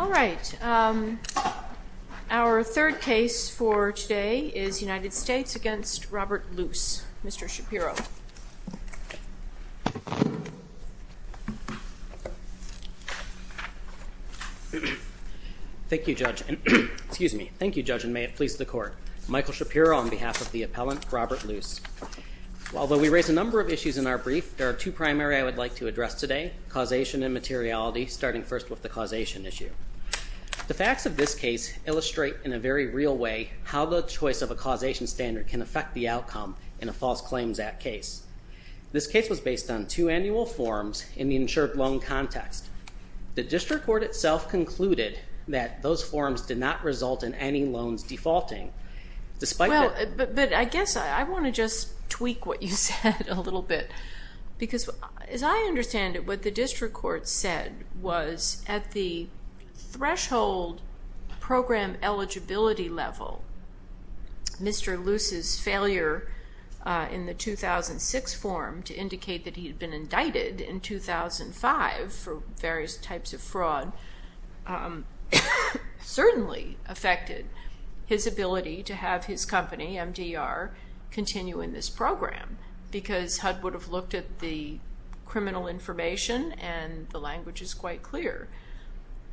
All right. Our third case for today is United States v. Robert Luce. Mr. Shapiro. Thank you, Judge, and may it please the Court. Michael Shapiro on behalf of the appellant, Robert Luce. Although we raise a number of issues in our brief, there are two primary I would like to address today, causation and materiality, starting first with the causation issue. The facts of this case illustrate in a very real way how the choice of a causation standard can affect the outcome in a False Claims Act case. This case was based on two annual forms in the insured loan context. The district court itself concluded that those forms did not result in any loans defaulting. Well, but I guess I want to just tweak what you said a little bit because as I understand it, what the district court said was at the threshold program eligibility level, Mr. Luce's failure in the 2006 form to indicate that he had been indicted in 2005 for various types of fraud certainly affected his ability to have his company, MDR, continue in this program because HUD would have looked at the criminal information and the language is quite clear.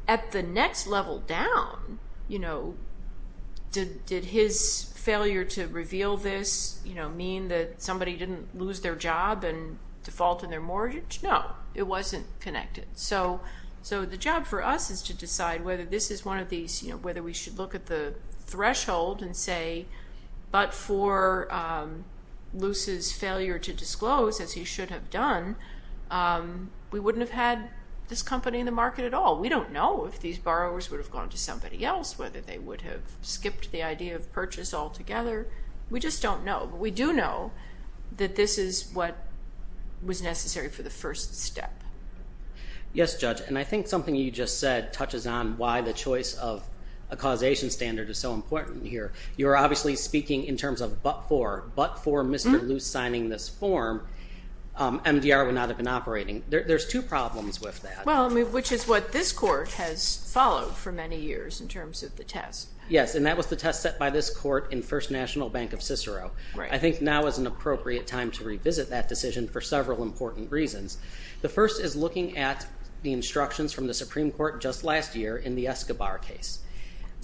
At the next level down, did his failure to reveal this mean that somebody didn't lose their job and default on their mortgage? No. It wasn't connected. The job for us is to decide whether we should look at the threshold and say, but for Luce's failure to disclose, as he should have done, we wouldn't have had this company in the market at all. We don't know if these borrowers would have gone to somebody else, whether they would have skipped the idea of purchase altogether. We just don't know, but we do know that this is what was necessary for the first step. Yes, Judge, and I think something you just said touches on why the choice of a causation standard is so important here. You're obviously speaking in terms of but for, but for Mr. Luce signing this form, MDR would not have been operating. There's two problems with that. Well, which is what this court has followed for many years in terms of the test. Yes, and that was the test set by this court in First National Bank of Cicero. I think now is an appropriate time to revisit that decision for several important reasons. The first is looking at the instructions from the Supreme Court just last year in the Escobar case.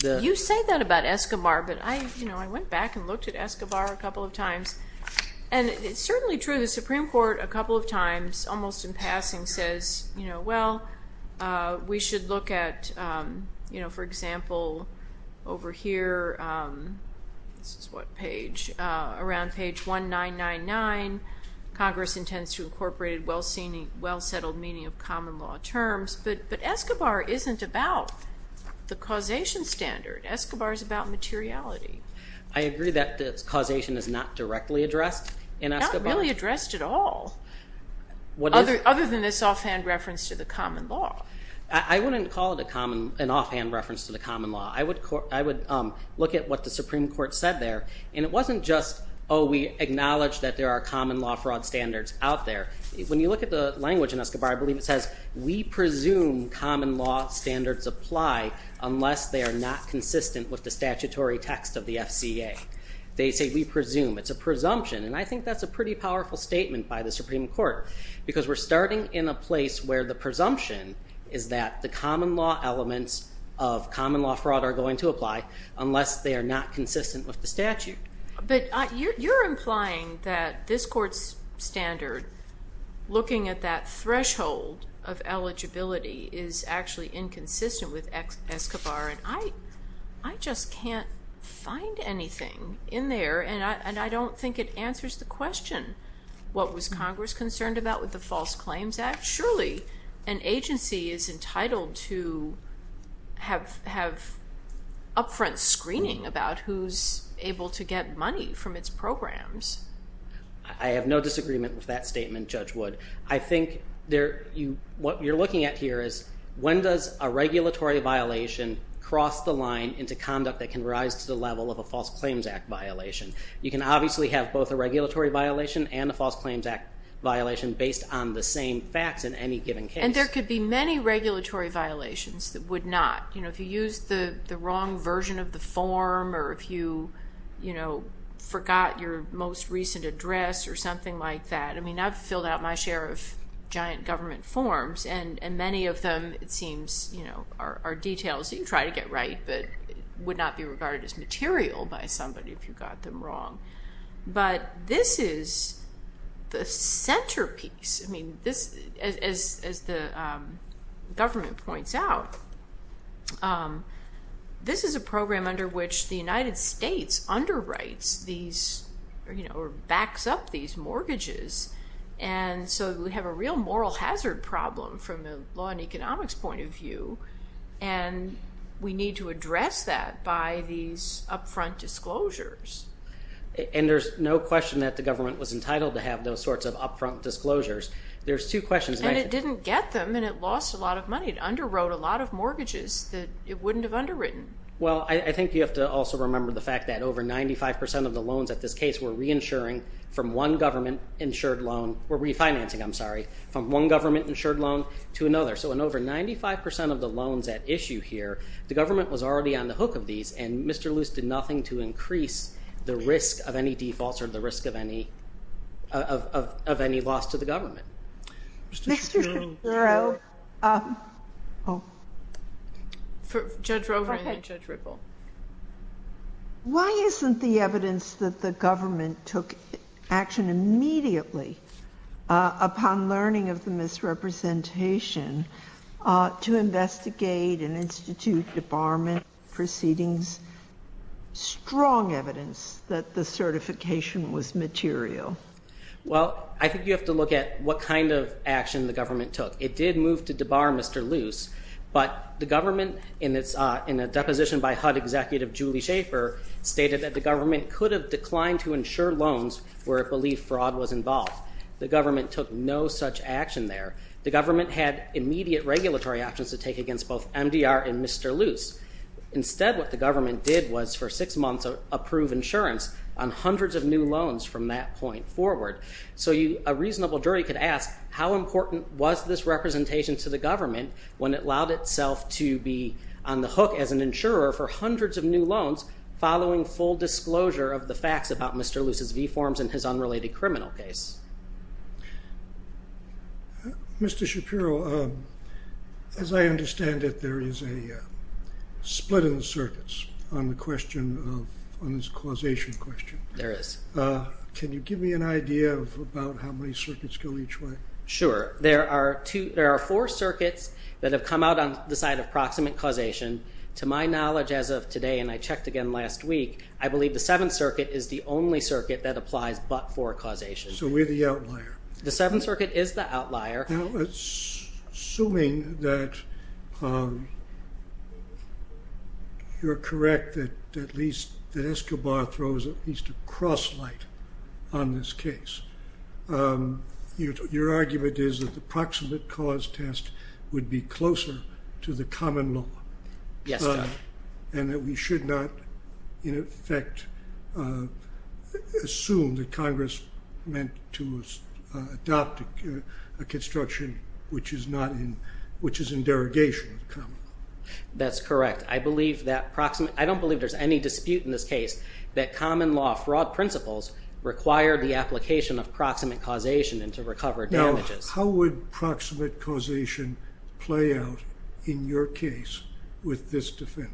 You say that about Escobar, but I went back and looked at Escobar a couple of times, and it's certainly true. The Supreme Court a couple of times, almost in passing, says, you know, well, we should look at, you know, for example, over here. This is what page? Around page 19999, Congress intends to incorporate well-seen, well-settled meaning of common law terms, but Escobar isn't about the causation standard. Escobar is about materiality. That's not really addressed at all other than this offhand reference to the common law. I wouldn't call it an offhand reference to the common law. I would look at what the Supreme Court said there, and it wasn't just, oh, we acknowledge that there are common law fraud standards out there. When you look at the language in Escobar, I believe it says, we presume common law standards apply unless they are not consistent with the statutory text of the FCA. They say, we presume. It's a presumption, and I think that's a pretty powerful statement by the Supreme Court because we're starting in a place where the presumption is that the common law elements of common law fraud are going to apply unless they are not consistent with the statute. But you're implying that this Court's standard, looking at that threshold of eligibility, is actually inconsistent with Escobar, and I just can't find anything in there, and I don't think it answers the question, what was Congress concerned about with the False Claims Act? Surely an agency is entitled to have upfront screening about who's able to get money from its programs. I have no disagreement with that statement, Judge Wood. I think what you're looking at here is, when does a regulatory violation cross the line into conduct that can rise to the level of a False Claims Act violation? You can obviously have both a regulatory violation and a False Claims Act violation based on the same facts in any given case. And there could be many regulatory violations that would not. If you used the wrong version of the form or if you forgot your most recent address or something like that, I mean, I've filled out my share of giant government forms, and many of them, it seems, are details that you try to get right but would not be regarded as material by somebody if you got them wrong. But this is the centerpiece. I mean, as the government points out, this is a program under which the United States underwrites these or backs up these mortgages. And so we have a real moral hazard problem from a law and economics point of view, and we need to address that by these upfront disclosures. And there's no question that the government was entitled to have those sorts of upfront disclosures. There's two questions. And it didn't get them, and it lost a lot of money. It underwrote a lot of mortgages that it wouldn't have underwritten. Well, I think you have to also remember the fact that over 95% of the loans at this case were reinsuring from one government-insured loan or refinancing, I'm sorry, from one government-insured loan to another. So in over 95% of the loans at issue here, the government was already on the hook of these, and Mr. Luce did nothing to increase the risk of any defaults or the risk of any loss to the government. Mr. Fitzgerald. Judge Roper and then Judge Ripple. Why isn't the evidence that the government took action immediately upon learning of the misrepresentation to investigate and institute debarment proceedings strong evidence that the certification was material? Well, I think you have to look at what kind of action the government took. It did move to debar Mr. Luce, but the government, in a deposition by HUD Executive Julie Schaefer, stated that the government could have declined to insure loans where it believed fraud was involved. The government took no such action there. The government had immediate regulatory actions to take against both MDR and Mr. Luce. Instead, what the government did was for six months approve insurance on hundreds of new loans from that point forward. So a reasonable jury could ask how important was this representation to the government when it allowed itself to be on the hook as an insurer for hundreds of new loans following full disclosure of the facts about Mr. Luce's V-forms and his unrelated criminal case. Mr. Shapiro, as I understand it, there is a split in the circuits on this causation question. There is. Can you give me an idea of about how many circuits go each way? Sure. There are four circuits that have come out on the side of proximate causation. To my knowledge as of today, and I checked again last week, I believe the Seventh Circuit is the only circuit that applies but for causation. So we're the outlier. The Seventh Circuit is the outlier. Assuming that you're correct that at least Escobar throws at least a cross light on this case, your argument is that the proximate cause test would be closer to the common law. Yes, sir. And that we should not, in effect, assume that Congress meant to adopt a construction which is in derogation of the common law. That's correct. I don't believe there's any dispute in this case that common law fraud principles require the application of proximate causation and to recover damages. How would proximate causation play out in your case with this defendant?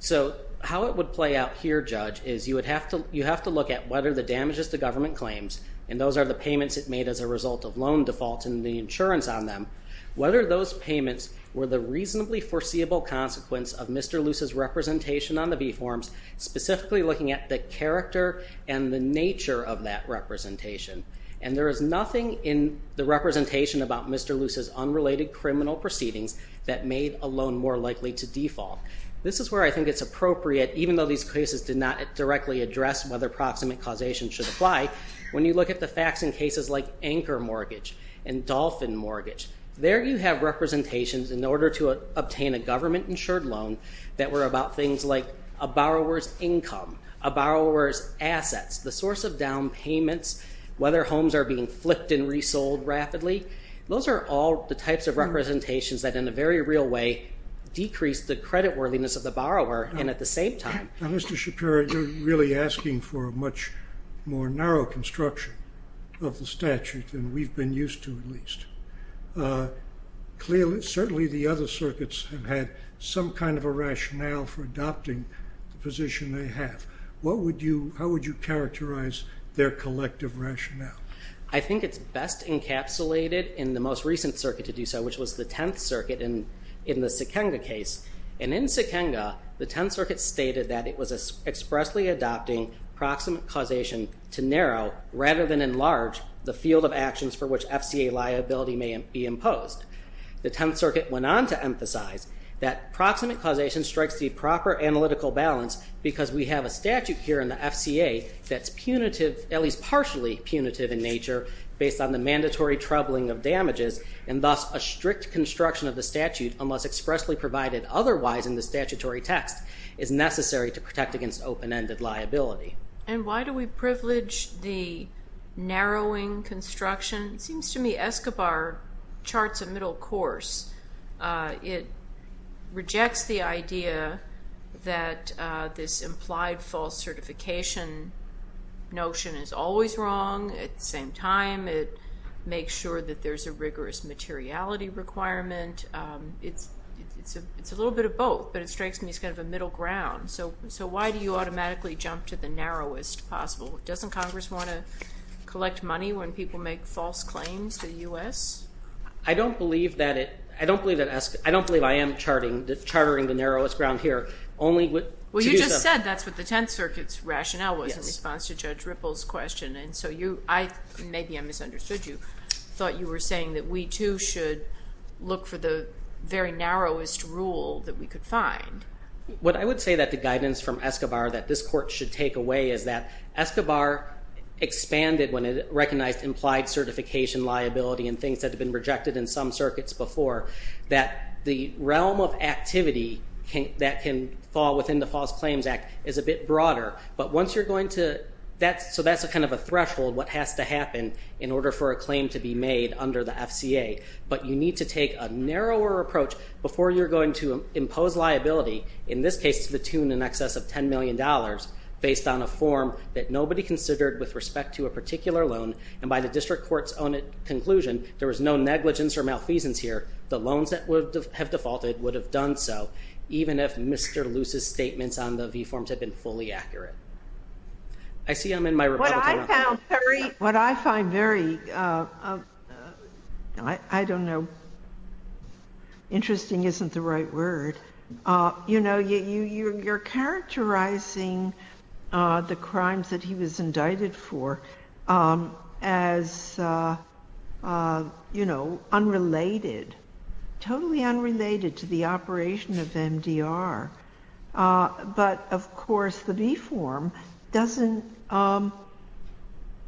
So how it would play out here, Judge, is you would have to look at whether the damages the government claims, and those are the payments it made as a result of loan defaults and the insurance on them, whether those payments were the reasonably foreseeable consequence of Mr. Luce's representation on the v-forms, specifically looking at the character and the nature of that representation. And there is nothing in the representation about Mr. Luce's unrelated criminal proceedings that made a loan more likely to default. This is where I think it's appropriate, even though these cases did not directly address whether proximate causation should apply, when you look at the facts in cases like anchor mortgage and dolphin mortgage. There you have representations in order to obtain a government-insured loan that were about things like a borrower's income, a borrower's assets, the source of down payments, whether homes are being flipped and resold rapidly. Those are all the types of representations that in a very real way decrease the creditworthiness of the borrower, and at the same time... Now, Mr. Shapiro, you're really asking for a much more narrow construction of the statute than we've been used to, at least. Certainly the other circuits have had some kind of a rationale for adopting the position they have. How would you characterize their collective rationale? I think it's best encapsulated in the most recent circuit to do so, which was the Tenth Circuit in the Sikenga case. And in Sikenga, the Tenth Circuit stated that it was expressly adopting proximate causation to narrow rather than enlarge the field of actions for which FCA liability may be imposed. The Tenth Circuit went on to emphasize that proximate causation strikes the proper analytical balance because we have a statute here in the FCA that's punitive, at least partially punitive in nature, based on the mandatory troubling of damages, and thus a strict construction of the statute, unless expressly provided otherwise in the statutory text, is necessary to protect against open-ended liability. And why do we privilege the narrowing construction? It seems to me Escobar charts a middle course. It rejects the idea that this implied false certification notion is always wrong. At the same time, it makes sure that there's a rigorous materiality requirement. It's a little bit of both, but it strikes me as kind of a middle ground. So why do you automatically jump to the narrowest possible? Doesn't Congress want to collect money when people make false claims to the U.S.? I don't believe that I am chartering the narrowest ground here. Well, you just said that's what the Tenth Circuit's rationale was in response to Judge Ripple's question, and so maybe I misunderstood you. I thought you were saying that we, too, should look for the very narrowest rule that we could find. What I would say that the guidance from Escobar that this Court should take away is that Escobar expanded when it recognized implied certification liability and things that have been rejected in some circuits before, that the realm of activity that can fall within the False Claims Act is a bit broader. So that's kind of a threshold, what has to happen in order for a claim to be made under the FCA. But you need to take a narrower approach before you're going to impose liability, in this case to the tune and excess of $10 million, based on a form that nobody considered with respect to a particular loan, and by the district court's own conclusion, there was no negligence or malfeasance here. The loans that would have defaulted would have done so, even if Mr. Luce's statements on the V-forms had been fully accurate. I see I'm in my Republican round. What I find very, I don't know, interesting isn't the right word. You know, you're characterizing the crimes that he was indicted for as, you know, unrelated, totally unrelated to the operation of MDR. But, of course, the V-form doesn't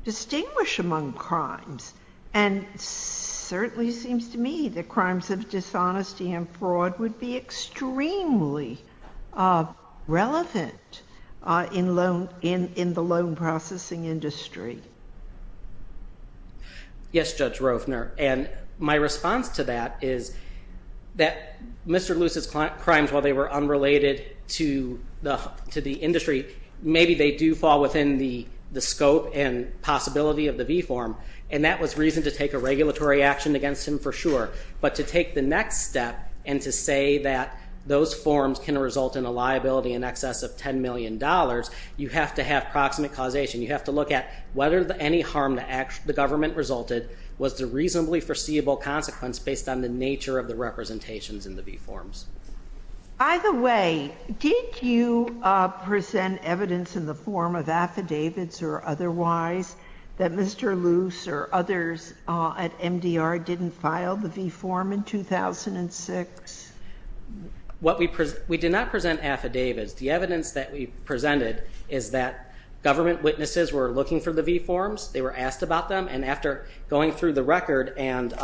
distinguish among crimes. And it certainly seems to me that crimes of dishonesty and fraud would be extremely relevant in the loan processing industry. Yes, Judge Roefner. And my response to that is that Mr. Luce's crimes, while they were unrelated to the industry, maybe they do fall within the scope and possibility of the V-form. And that was reason to take a regulatory action against him for sure. But to take the next step and to say that those forms can result in a liability in excess of $10 million, you have to have proximate causation. You have to look at whether any harm the government resulted was the reasonably foreseeable consequence based on the nature of the representations in the V-forms. By the way, did you present evidence in the form of affidavits or otherwise that Mr. Luce or others at MDR didn't file the V-form in 2006? We did not present affidavits. The evidence that we presented is that government witnesses were looking for the V-forms, they were asked about them, and after going through the record and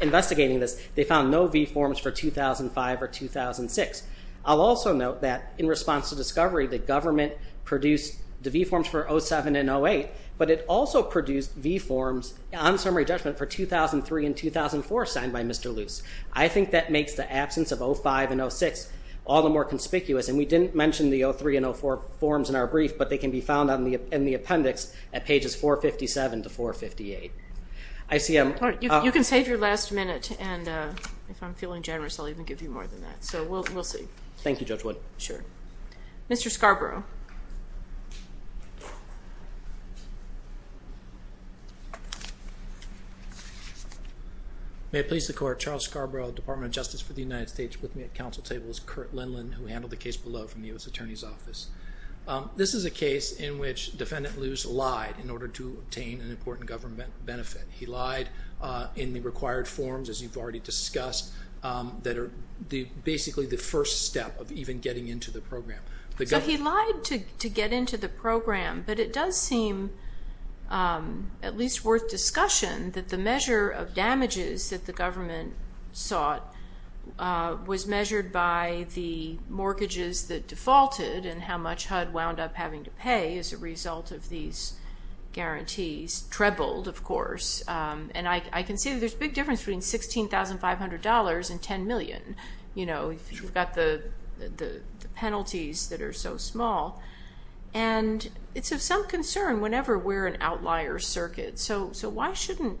investigating this, they found no V-forms for 2005 or 2006. I'll also note that in response to discovery, the government produced the V-forms for 07 and 08, but it also produced V-forms on summary judgment for 2003 and 2004 signed by Mr. Luce. I think that makes the absence of 05 and 06 all the more conspicuous, and we didn't mention the 03 and 04 forms in our brief, but they can be found in the appendix at pages 457 to 458. You can save your last minute, and if I'm feeling generous, I'll even give you more than that. So we'll see. Thank you, Judge Wood. Sure. Mr. Scarborough. May it please the Court. Charles Scarborough, Department of Justice for the United States. With me at council table is Kurt Lindland, who handled the case below from the U.S. Attorney's Office. This is a case in which Defendant Luce lied in order to obtain an important government benefit. He lied in the required forms, as you've already discussed, that are basically the first step of even getting into the program. So he lied to get into the program, but it does seem at least worth discussion that the measure of damages that the government sought was measured by the mortgages that defaulted and how much HUD wound up having to pay as a result of these guarantees. Trebled, of course. And I can see there's a big difference between $16,500 and $10 million, you know, if you've got the penalties that are so small. And it's of some concern whenever we're an outlier circuit. So why shouldn't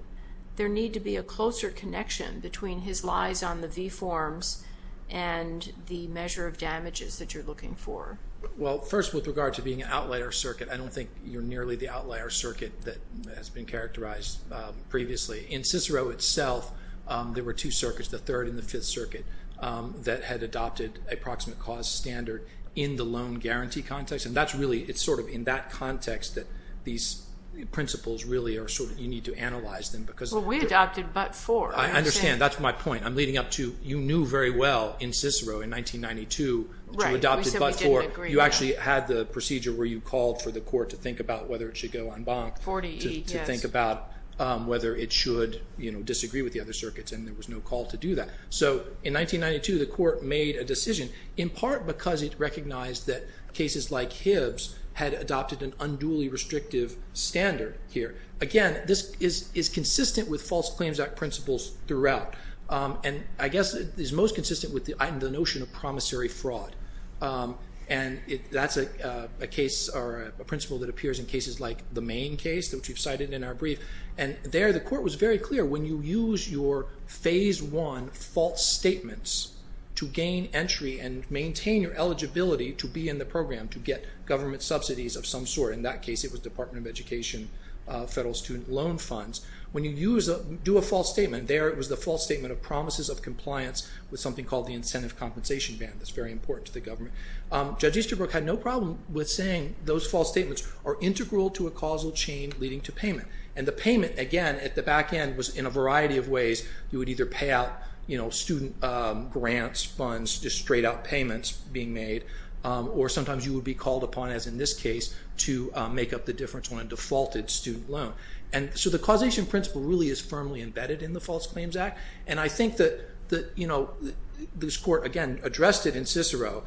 there need to be a closer connection between his lies on the V forms and the measure of damages that you're looking for? Well, first, with regard to being an outlier circuit, I don't think you're nearly the outlier circuit that has been characterized previously. In Cicero itself, there were two circuits, the Third and the Fifth Circuit, that had adopted a proximate cause standard in the loan guarantee context. And that's really sort of in that context that these principles really are sort of you need to analyze them. Well, we adopted but for. I understand. That's my point. I'm leading up to you knew very well in Cicero in 1992 that you adopted but for. You actually had the procedure where you called for the court to think about whether it should go en banc. To think about whether it should, you know, disagree with the other circuits. And there was no call to do that. So in 1992, the court made a decision, in part because it recognized that cases like Hibb's had adopted an unduly restrictive standard here. Again, this is consistent with False Claims Act principles throughout. And I guess it is most consistent with the notion of promissory fraud. And that's a case or a principle that appears in cases like the Mayne case, which we've cited in our brief. And there, the court was very clear. When you use your Phase I false statements to gain entry and maintain your eligibility to be in the program, to get government subsidies of some sort, in that case it was Department of Education, Federal Student Loan Funds. When you do a false statement, there it was the false statement of promises of compliance with something called the Incentive Compensation Ban that's very important to the government. Judge Easterbrook had no problem with saying those false statements are integral to a causal chain leading to payment. And the payment, again, at the back end was in a variety of ways. You would either pay out student grants, funds, just straight out payments being made. Or sometimes you would be called upon, as in this case, to make up the difference on a defaulted student loan. And so the causation principle really is firmly embedded in the False Claims Act. And I think that, you know, this court, again, addressed it in Cicero.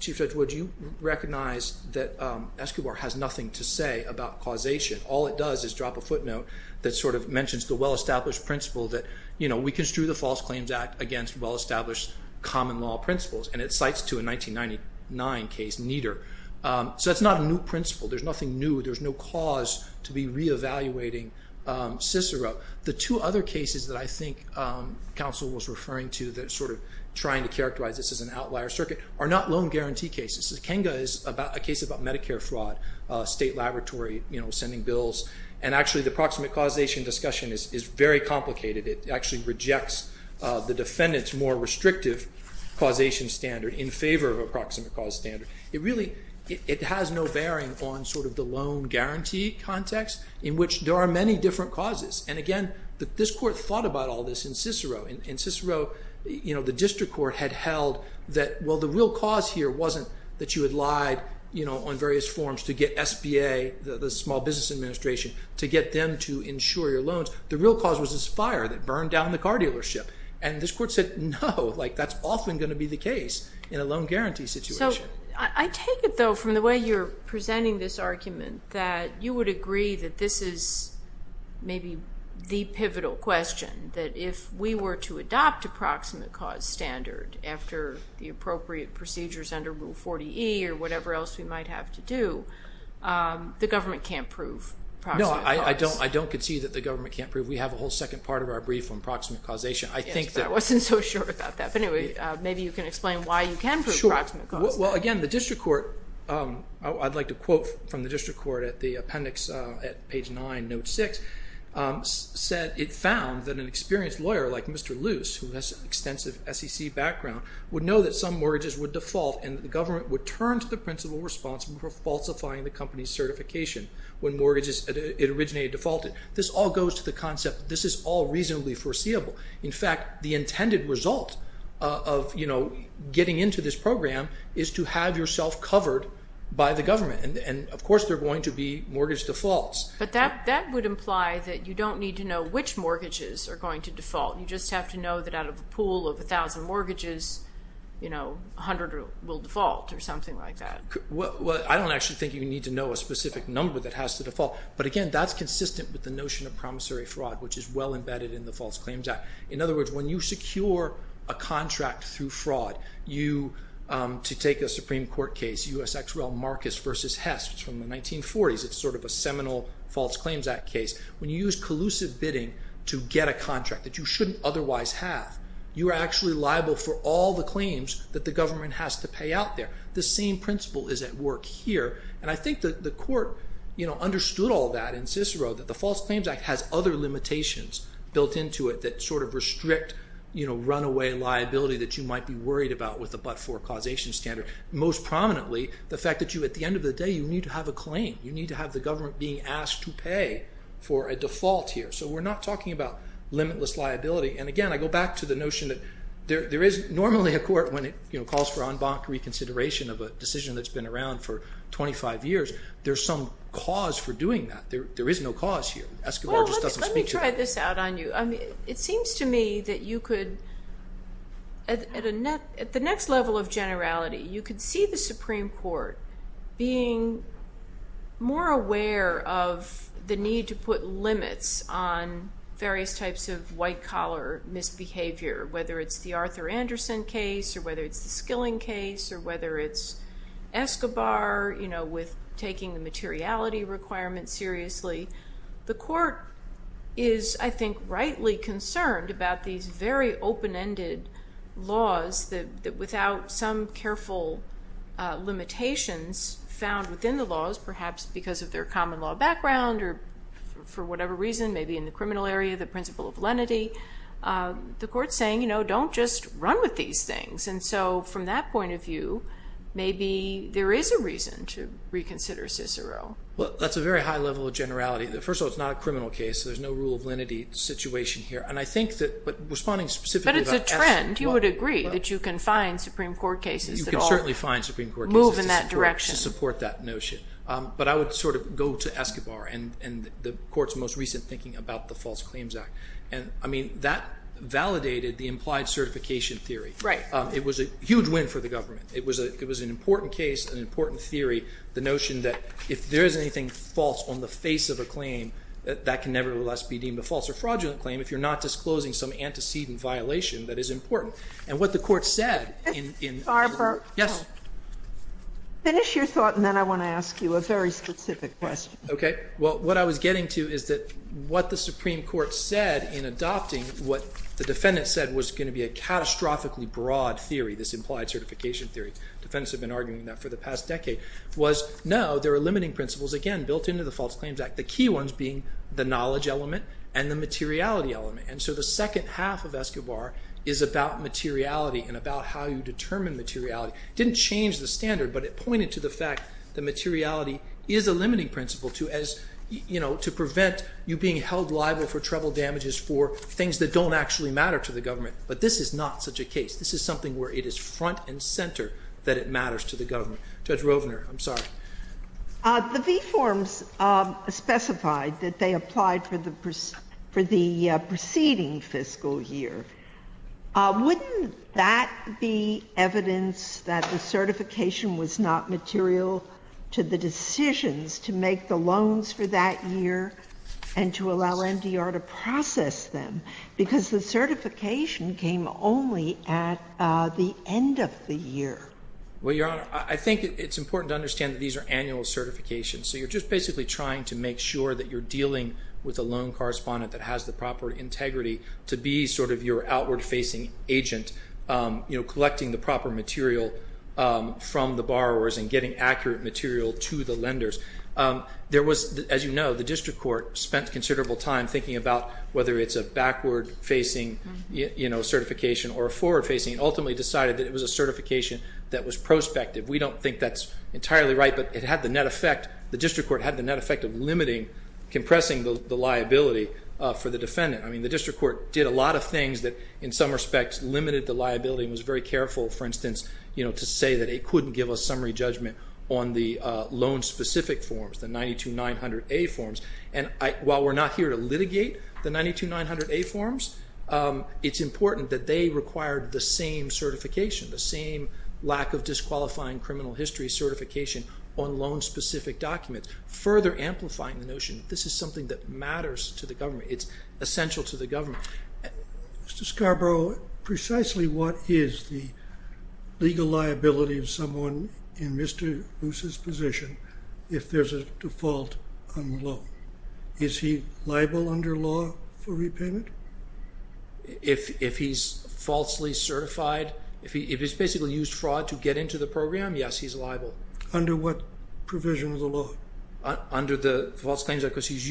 Chief Judge Wood, you recognize that Escobar has nothing to say about causation. All it does is drop a footnote that sort of mentions the well-established principle that, you know, we construe the False Claims Act against well-established common law principles. And it cites to a 1999 case, Nieder. So that's not a new principle. There's nothing new. There's no cause to be reevaluating Cicero. The two other cases that I think counsel was referring to that are sort of trying to characterize this as an outlier circuit are not loan guarantee cases. Kenga is a case about Medicare fraud, state laboratory, you know, sending bills. And actually the proximate causation discussion is very complicated. It actually rejects the defendant's more restrictive causation standard in favor of a proximate cause standard. It really, it has no bearing on sort of the loan guarantee context in which there are many different causes. And again, this court thought about all this in Cicero. In Cicero, you know, the district court had held that, well, the real cause here wasn't that you had lied, you know, on various forms to get SBA, the Small Business Administration, to get them to insure your loans. The real cause was this fire that burned down the car dealership. And this court said, no, like that's often going to be the case in a loan guarantee situation. So I take it, though, from the way you're presenting this argument that you would agree that this is maybe the pivotal question, that if we were to adopt a proximate cause standard after the appropriate procedures under Rule 40E or whatever else we might have to do, the government can't prove proximate cause. No, I don't concede that the government can't prove. We have a whole second part of our brief on proximate causation. I think that... I wasn't so sure about that. Well, again, the district court, I'd like to quote from the district court at the appendix at page nine, note six, said it found that an experienced lawyer like Mr. Luce, who has extensive SEC background, would know that some mortgages would default and the government would turn to the principal responsible for falsifying the company's certification when mortgages originated defaulted. This all goes to the concept that this is all reasonably foreseeable. In fact, the intended result of getting into this program is to have yourself covered by the government. And, of course, there are going to be mortgage defaults. But that would imply that you don't need to know which mortgages are going to default. You just have to know that out of a pool of 1,000 mortgages, 100 will default or something like that. Well, I don't actually think you need to know a specific number that has to default. But, again, that's consistent with the notion of promissory fraud, which is well-embedded in the False Claims Act. In other words, when you secure a contract through fraud, to take a Supreme Court case, U.S. ex-rel Marcus v. Hess, which is from the 1940s, it's sort of a seminal False Claims Act case. When you use collusive bidding to get a contract that you shouldn't otherwise have, you are actually liable for all the claims that the government has to pay out there. The same principle is at work here. And I think the court understood all that in Cicero, that the False Claims Act has other limitations built into it that sort of restrict runaway liability that you might be worried about with a but-for causation standard. Most prominently, the fact that at the end of the day, you need to have a claim. You need to have the government being asked to pay for a default here. So we're not talking about limitless liability. And, again, I go back to the notion that there is normally a court when it calls for en banc reconsideration of a decision that's been around for 25 years, there's some cause for doing that. There is no cause here. Escobar just doesn't speak to that. Well, let me try this out on you. It seems to me that you could, at the next level of generality, you could see the Supreme Court being more aware of the need to put limits on various types of white-collar misbehavior, whether it's the Arthur Anderson case or whether it's the Skilling case or whether it's Escobar, you know, with taking the materiality requirement seriously. The court is, I think, rightly concerned about these very open-ended laws that, without some careful limitations found within the laws, perhaps because of their common law background or for whatever reason, maybe in the criminal area, the principle of lenity. The court's saying, you know, don't just run with these things. And so from that point of view, maybe there is a reason to reconsider Cicero. Well, that's a very high level of generality. First of all, it's not a criminal case, so there's no rule of lenity situation here. And I think that, but responding specifically about Escobar. But it's a trend. You would agree that you can find Supreme Court cases that all move in that direction. You can certainly find Supreme Court cases to support that notion. But I would sort of go to Escobar and the court's most recent thinking about the False Claims Act. And, I mean, that validated the implied certification theory. Right. It was a huge win for the government. It was an important case, an important theory, the notion that if there is anything false on the face of a claim, that that can nevertheless be deemed a false or fraudulent claim if you're not disclosing some antecedent violation that is important. And what the Court said in the Supreme Court. Barbara. Yes. Finish your thought, and then I want to ask you a very specific question. What I was getting to is that what the Supreme Court said in adopting what the defendant said was going to be a catastrophically broad theory, this implied certification theory. Defendants have been arguing that for the past decade. Was, no, there are limiting principles, again, built into the False Claims Act. The key ones being the knowledge element and the materiality element. And so the second half of Escobar is about materiality and about how you determine materiality. Didn't change the standard, but it pointed to the fact that materiality is a limiting principle to prevent you being held liable for treble damages for things that don't actually matter to the government. But this is not such a case. This is something where it is front and center that it matters to the government. Judge Rovner, I'm sorry. The V-Forms specified that they applied for the preceding fiscal year. Wouldn't that be evidence that the certification was not material to the decisions to make the loans for that year and to allow MDR to process them? Because the certification came only at the end of the year. Well, Your Honor, I think it's important to understand that these are annual certifications. So you're just basically trying to make sure that you're dealing with a loan correspondent that has the proper integrity to be sort of your outward-facing agent, collecting the proper material from the borrowers and getting accurate material to the lenders. As you know, the district court spent considerable time thinking about whether it's a backward-facing certification or a forward-facing and ultimately decided that it was a certification that was prospective. We don't think that's entirely right, but it had the net effect. The district court had the net effect of limiting, compressing the liability for the defendant. I mean, the district court did a lot of things that in some respects limited the liability and was very careful, for instance, to say that it couldn't give a summary judgment on the loan-specific forms, the 92900A forms. And while we're not here to litigate the 92900A forms, it's important that they required the same certification, the same lack of disqualifying criminal history certification on loan-specific documents, further amplifying the notion that this is something that matters to the government. It's essential to the government. Mr. Scarborough, precisely what is the legal liability of someone in Mr. Luce's position if there's a default on the loan? Is he liable under law for repayment? If he's falsely certified, if he's basically used fraud to get into the program, yes, he's liable. Under what provision of the law? Under the False Claims Act because he's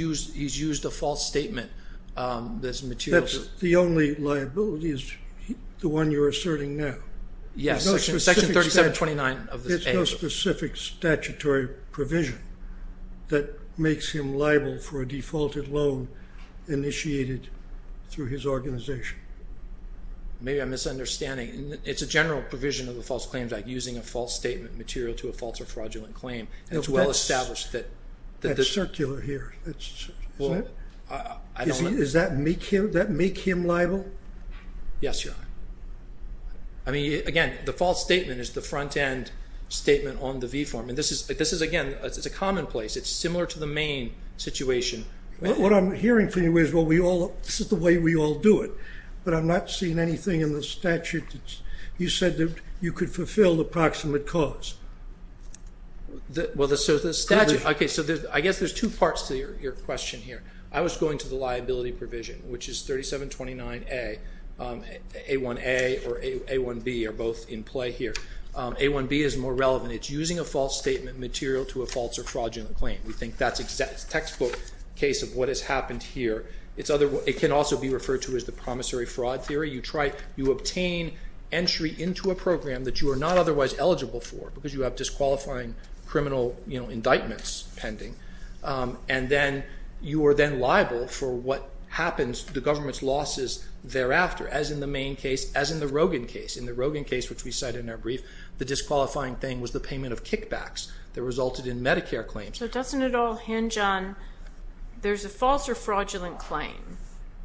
used a false statement. That's the only liability is the one you're asserting now. Yes, Section 3729 of the statute. There's no specific statutory provision that makes him liable for a defaulted loan initiated through his organization. Maybe I'm misunderstanding. It's a general provision of the False Claims Act, using a false statement material to a false or fraudulent claim. It's well established. That's circular here. Is that make him liable? Yes, Your Honor. Again, the false statement is the front-end statement on the V form. This is, again, it's a commonplace. It's similar to the main situation. What I'm hearing from you is this is the way we all do it, but I'm not seeing anything in the statute. You said that you could fulfill the proximate cause. Well, the statute, okay, so I guess there's two parts to your question here. I was going to the liability provision, which is 3729A. A1A or A1B are both in play here. A1B is more relevant. It's using a false statement material to a false or fraudulent claim. We think that's a textbook case of what has happened here. It can also be referred to as the promissory fraud theory. You obtain entry into a program that you are not otherwise eligible for because you have disqualifying criminal indictments pending, and then you are then liable for what happens to the government's losses thereafter, as in the main case, as in the Rogin case. In the Rogin case, which we cite in our brief, the disqualifying thing was the payment of kickbacks that resulted in Medicare claims. So doesn't it all hinge on there's a false or fraudulent claim.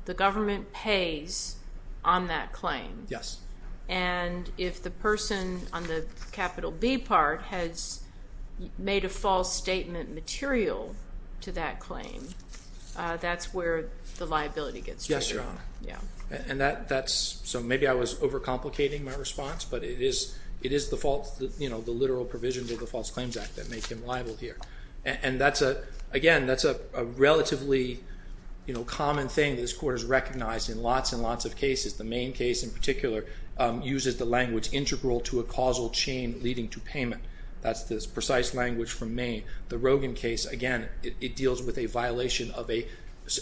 The government pays on that claim. Yes. And if the person on the capital B part has made a false statement material to that claim, that's where the liability gets triggered. Yes, Your Honor. So maybe I was overcomplicating my response, but it is the literal provisions of the False Claims Act that make him liable here. Again, that's a relatively common thing that this Court has recognized in lots and lots of cases. The Maine case in particular uses the language, integral to a causal chain leading to payment. That's the precise language from Maine. The Rogin case, again, it deals with a violation of an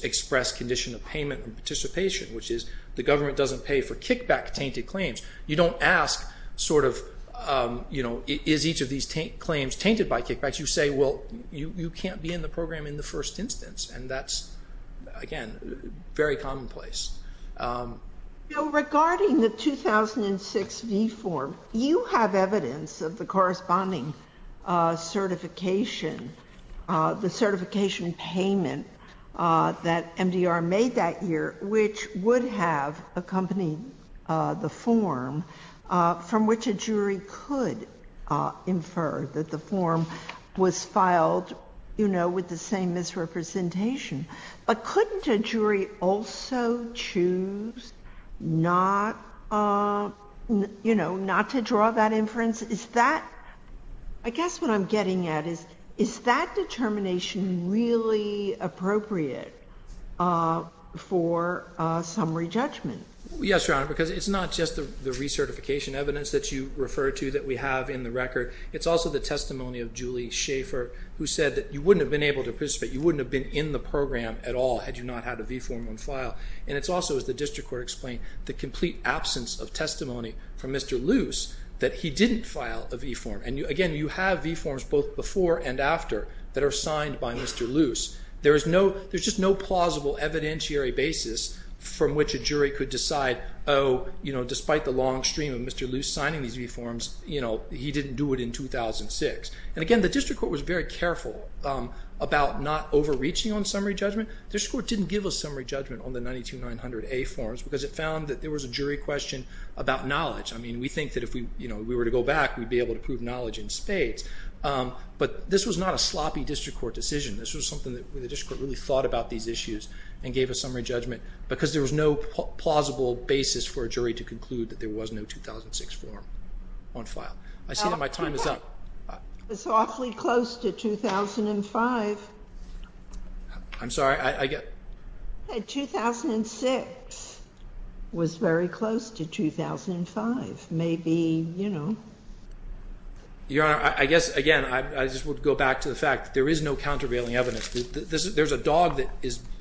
express condition of payment and participation, which is the government doesn't pay for kickback-tainted claims. You don't ask sort of, you know, is each of these claims tainted by kickbacks? You say, well, you can't be in the program in the first instance. And that's, again, very commonplace. Regarding the 2006 V form, you have evidence of the corresponding certification, the certification payment that MDR made that year, which would have accompanied the form from which a jury could infer that the form was filed, you know, with the same misrepresentation. But couldn't a jury also choose not, you know, not to draw that inference? Is that, I guess what I'm getting at is, is that determination really appropriate for summary judgment? Yes, Your Honor, because it's not just the recertification evidence that you refer to that we have in the record. It's also the testimony of Julie Schaefer, who said that you wouldn't have been able to participate, you wouldn't have been in the program at all had you not had a V form on file. And it's also, as the district court explained, the complete absence of testimony from Mr. Luce that he didn't file a V form. And, again, you have V forms both before and after that are signed by Mr. Luce. There's just no plausible evidentiary basis from which a jury could decide, oh, you know, despite the long stream of Mr. Luce signing these V forms, you know, he didn't do it in 2006. And, again, the district court was very careful about not overreaching on summary judgment. The district court didn't give a summary judgment on the 92900A forms because it found that there was a jury question about knowledge. I mean, we think that if we were to go back, we'd be able to prove knowledge in spades. But this was not a sloppy district court decision. This was something that the district court really thought about these issues and gave a summary judgment because there was no plausible basis for a jury to conclude that there was no 2006 form on file. I see that my time is up. It's awfully close to 2005. I'm sorry? 2006 was very close to 2005. Maybe, you know. Your Honor, I guess, again, I just would go back to the fact that there is no countervailing evidence. There's a dog that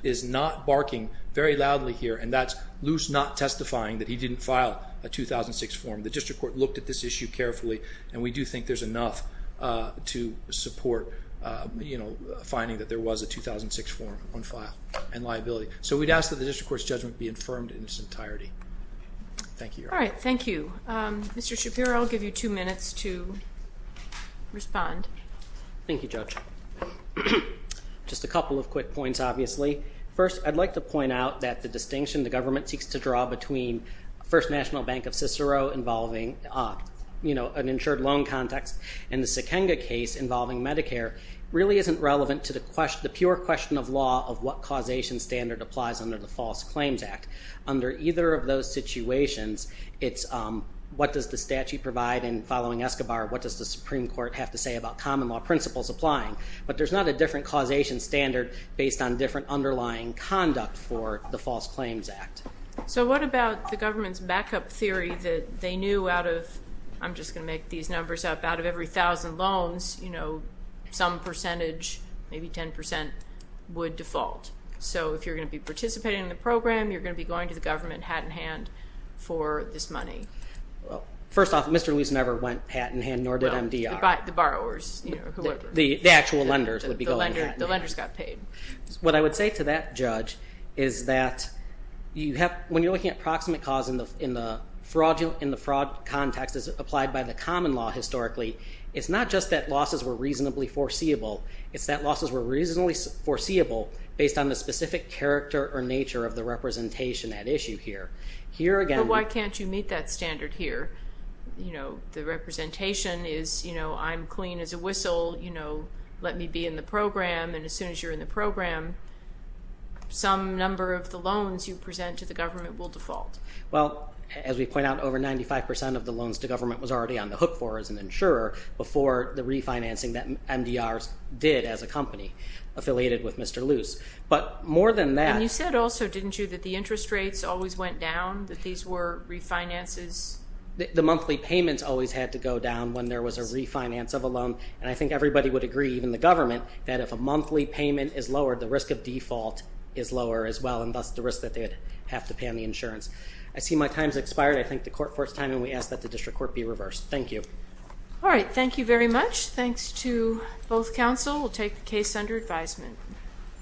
is not barking very loudly here, and that's Luce not testifying that he didn't file a 2006 form. The district court looked at this issue carefully, and we do think there's enough to support, you know, finding that there was a 2006 form on file and liability. So we'd ask that the district court's judgment be affirmed in its entirety. Thank you, Your Honor. All right. Thank you. Mr. Shapiro, I'll give you two minutes to respond. Thank you, Judge. Just a couple of quick points, obviously. First, I'd like to point out that the distinction the government seeks to draw between First National Bank of Cicero involving, you know, an insured loan context and the Sikenga case involving Medicare really isn't relevant to the pure question of law of what causation standard applies under the False Claims Act. Under either of those situations, it's what does the statute provide, and following Escobar, what does the Supreme Court have to say about common law principles applying? But there's not a different causation standard based on different underlying conduct for the False Claims Act. So what about the government's backup theory that they knew out of, I'm just going to make these numbers up, out of every thousand loans, you know, some percentage, maybe 10%, would default. So if you're going to be participating in the program, you're going to be going to the government hat in hand for this money. Well, first off, Mr. Lewis never went hat in hand, nor did MDR. Well, the borrowers, you know, whoever. The actual lenders would be going hat in hand. The lenders got paid. What I would say to that judge is that when you're looking at proximate cause in the fraud context as applied by the common law historically, it's not just that losses were reasonably foreseeable. It's that losses were reasonably foreseeable based on the specific character or nature of the representation at issue here. But why can't you meet that standard here? You know, the representation is, you know, I'm clean as a whistle. You know, let me be in the program. And as soon as you're in the program, some number of the loans you present to the government will default. Well, as we point out, over 95% of the loans to government was already on the hook for as an insurer before the refinancing that MDR did as a company affiliated with Mr. Lewis. But more than that. And you said also, didn't you, that the interest rates always went down, that these were refinances? The monthly payments always had to go down when there was a refinance of a loan. And I think everybody would agree, even the government, that if a monthly payment is lowered, the risk of default is lower as well, and thus the risk that they would have to pay on the insurance. I see my time's expired. I thank the court for its time, and we ask that the district court be reversed. Thank you. All right. Thank you very much. Thanks to both counsel. We'll take the case under advisement.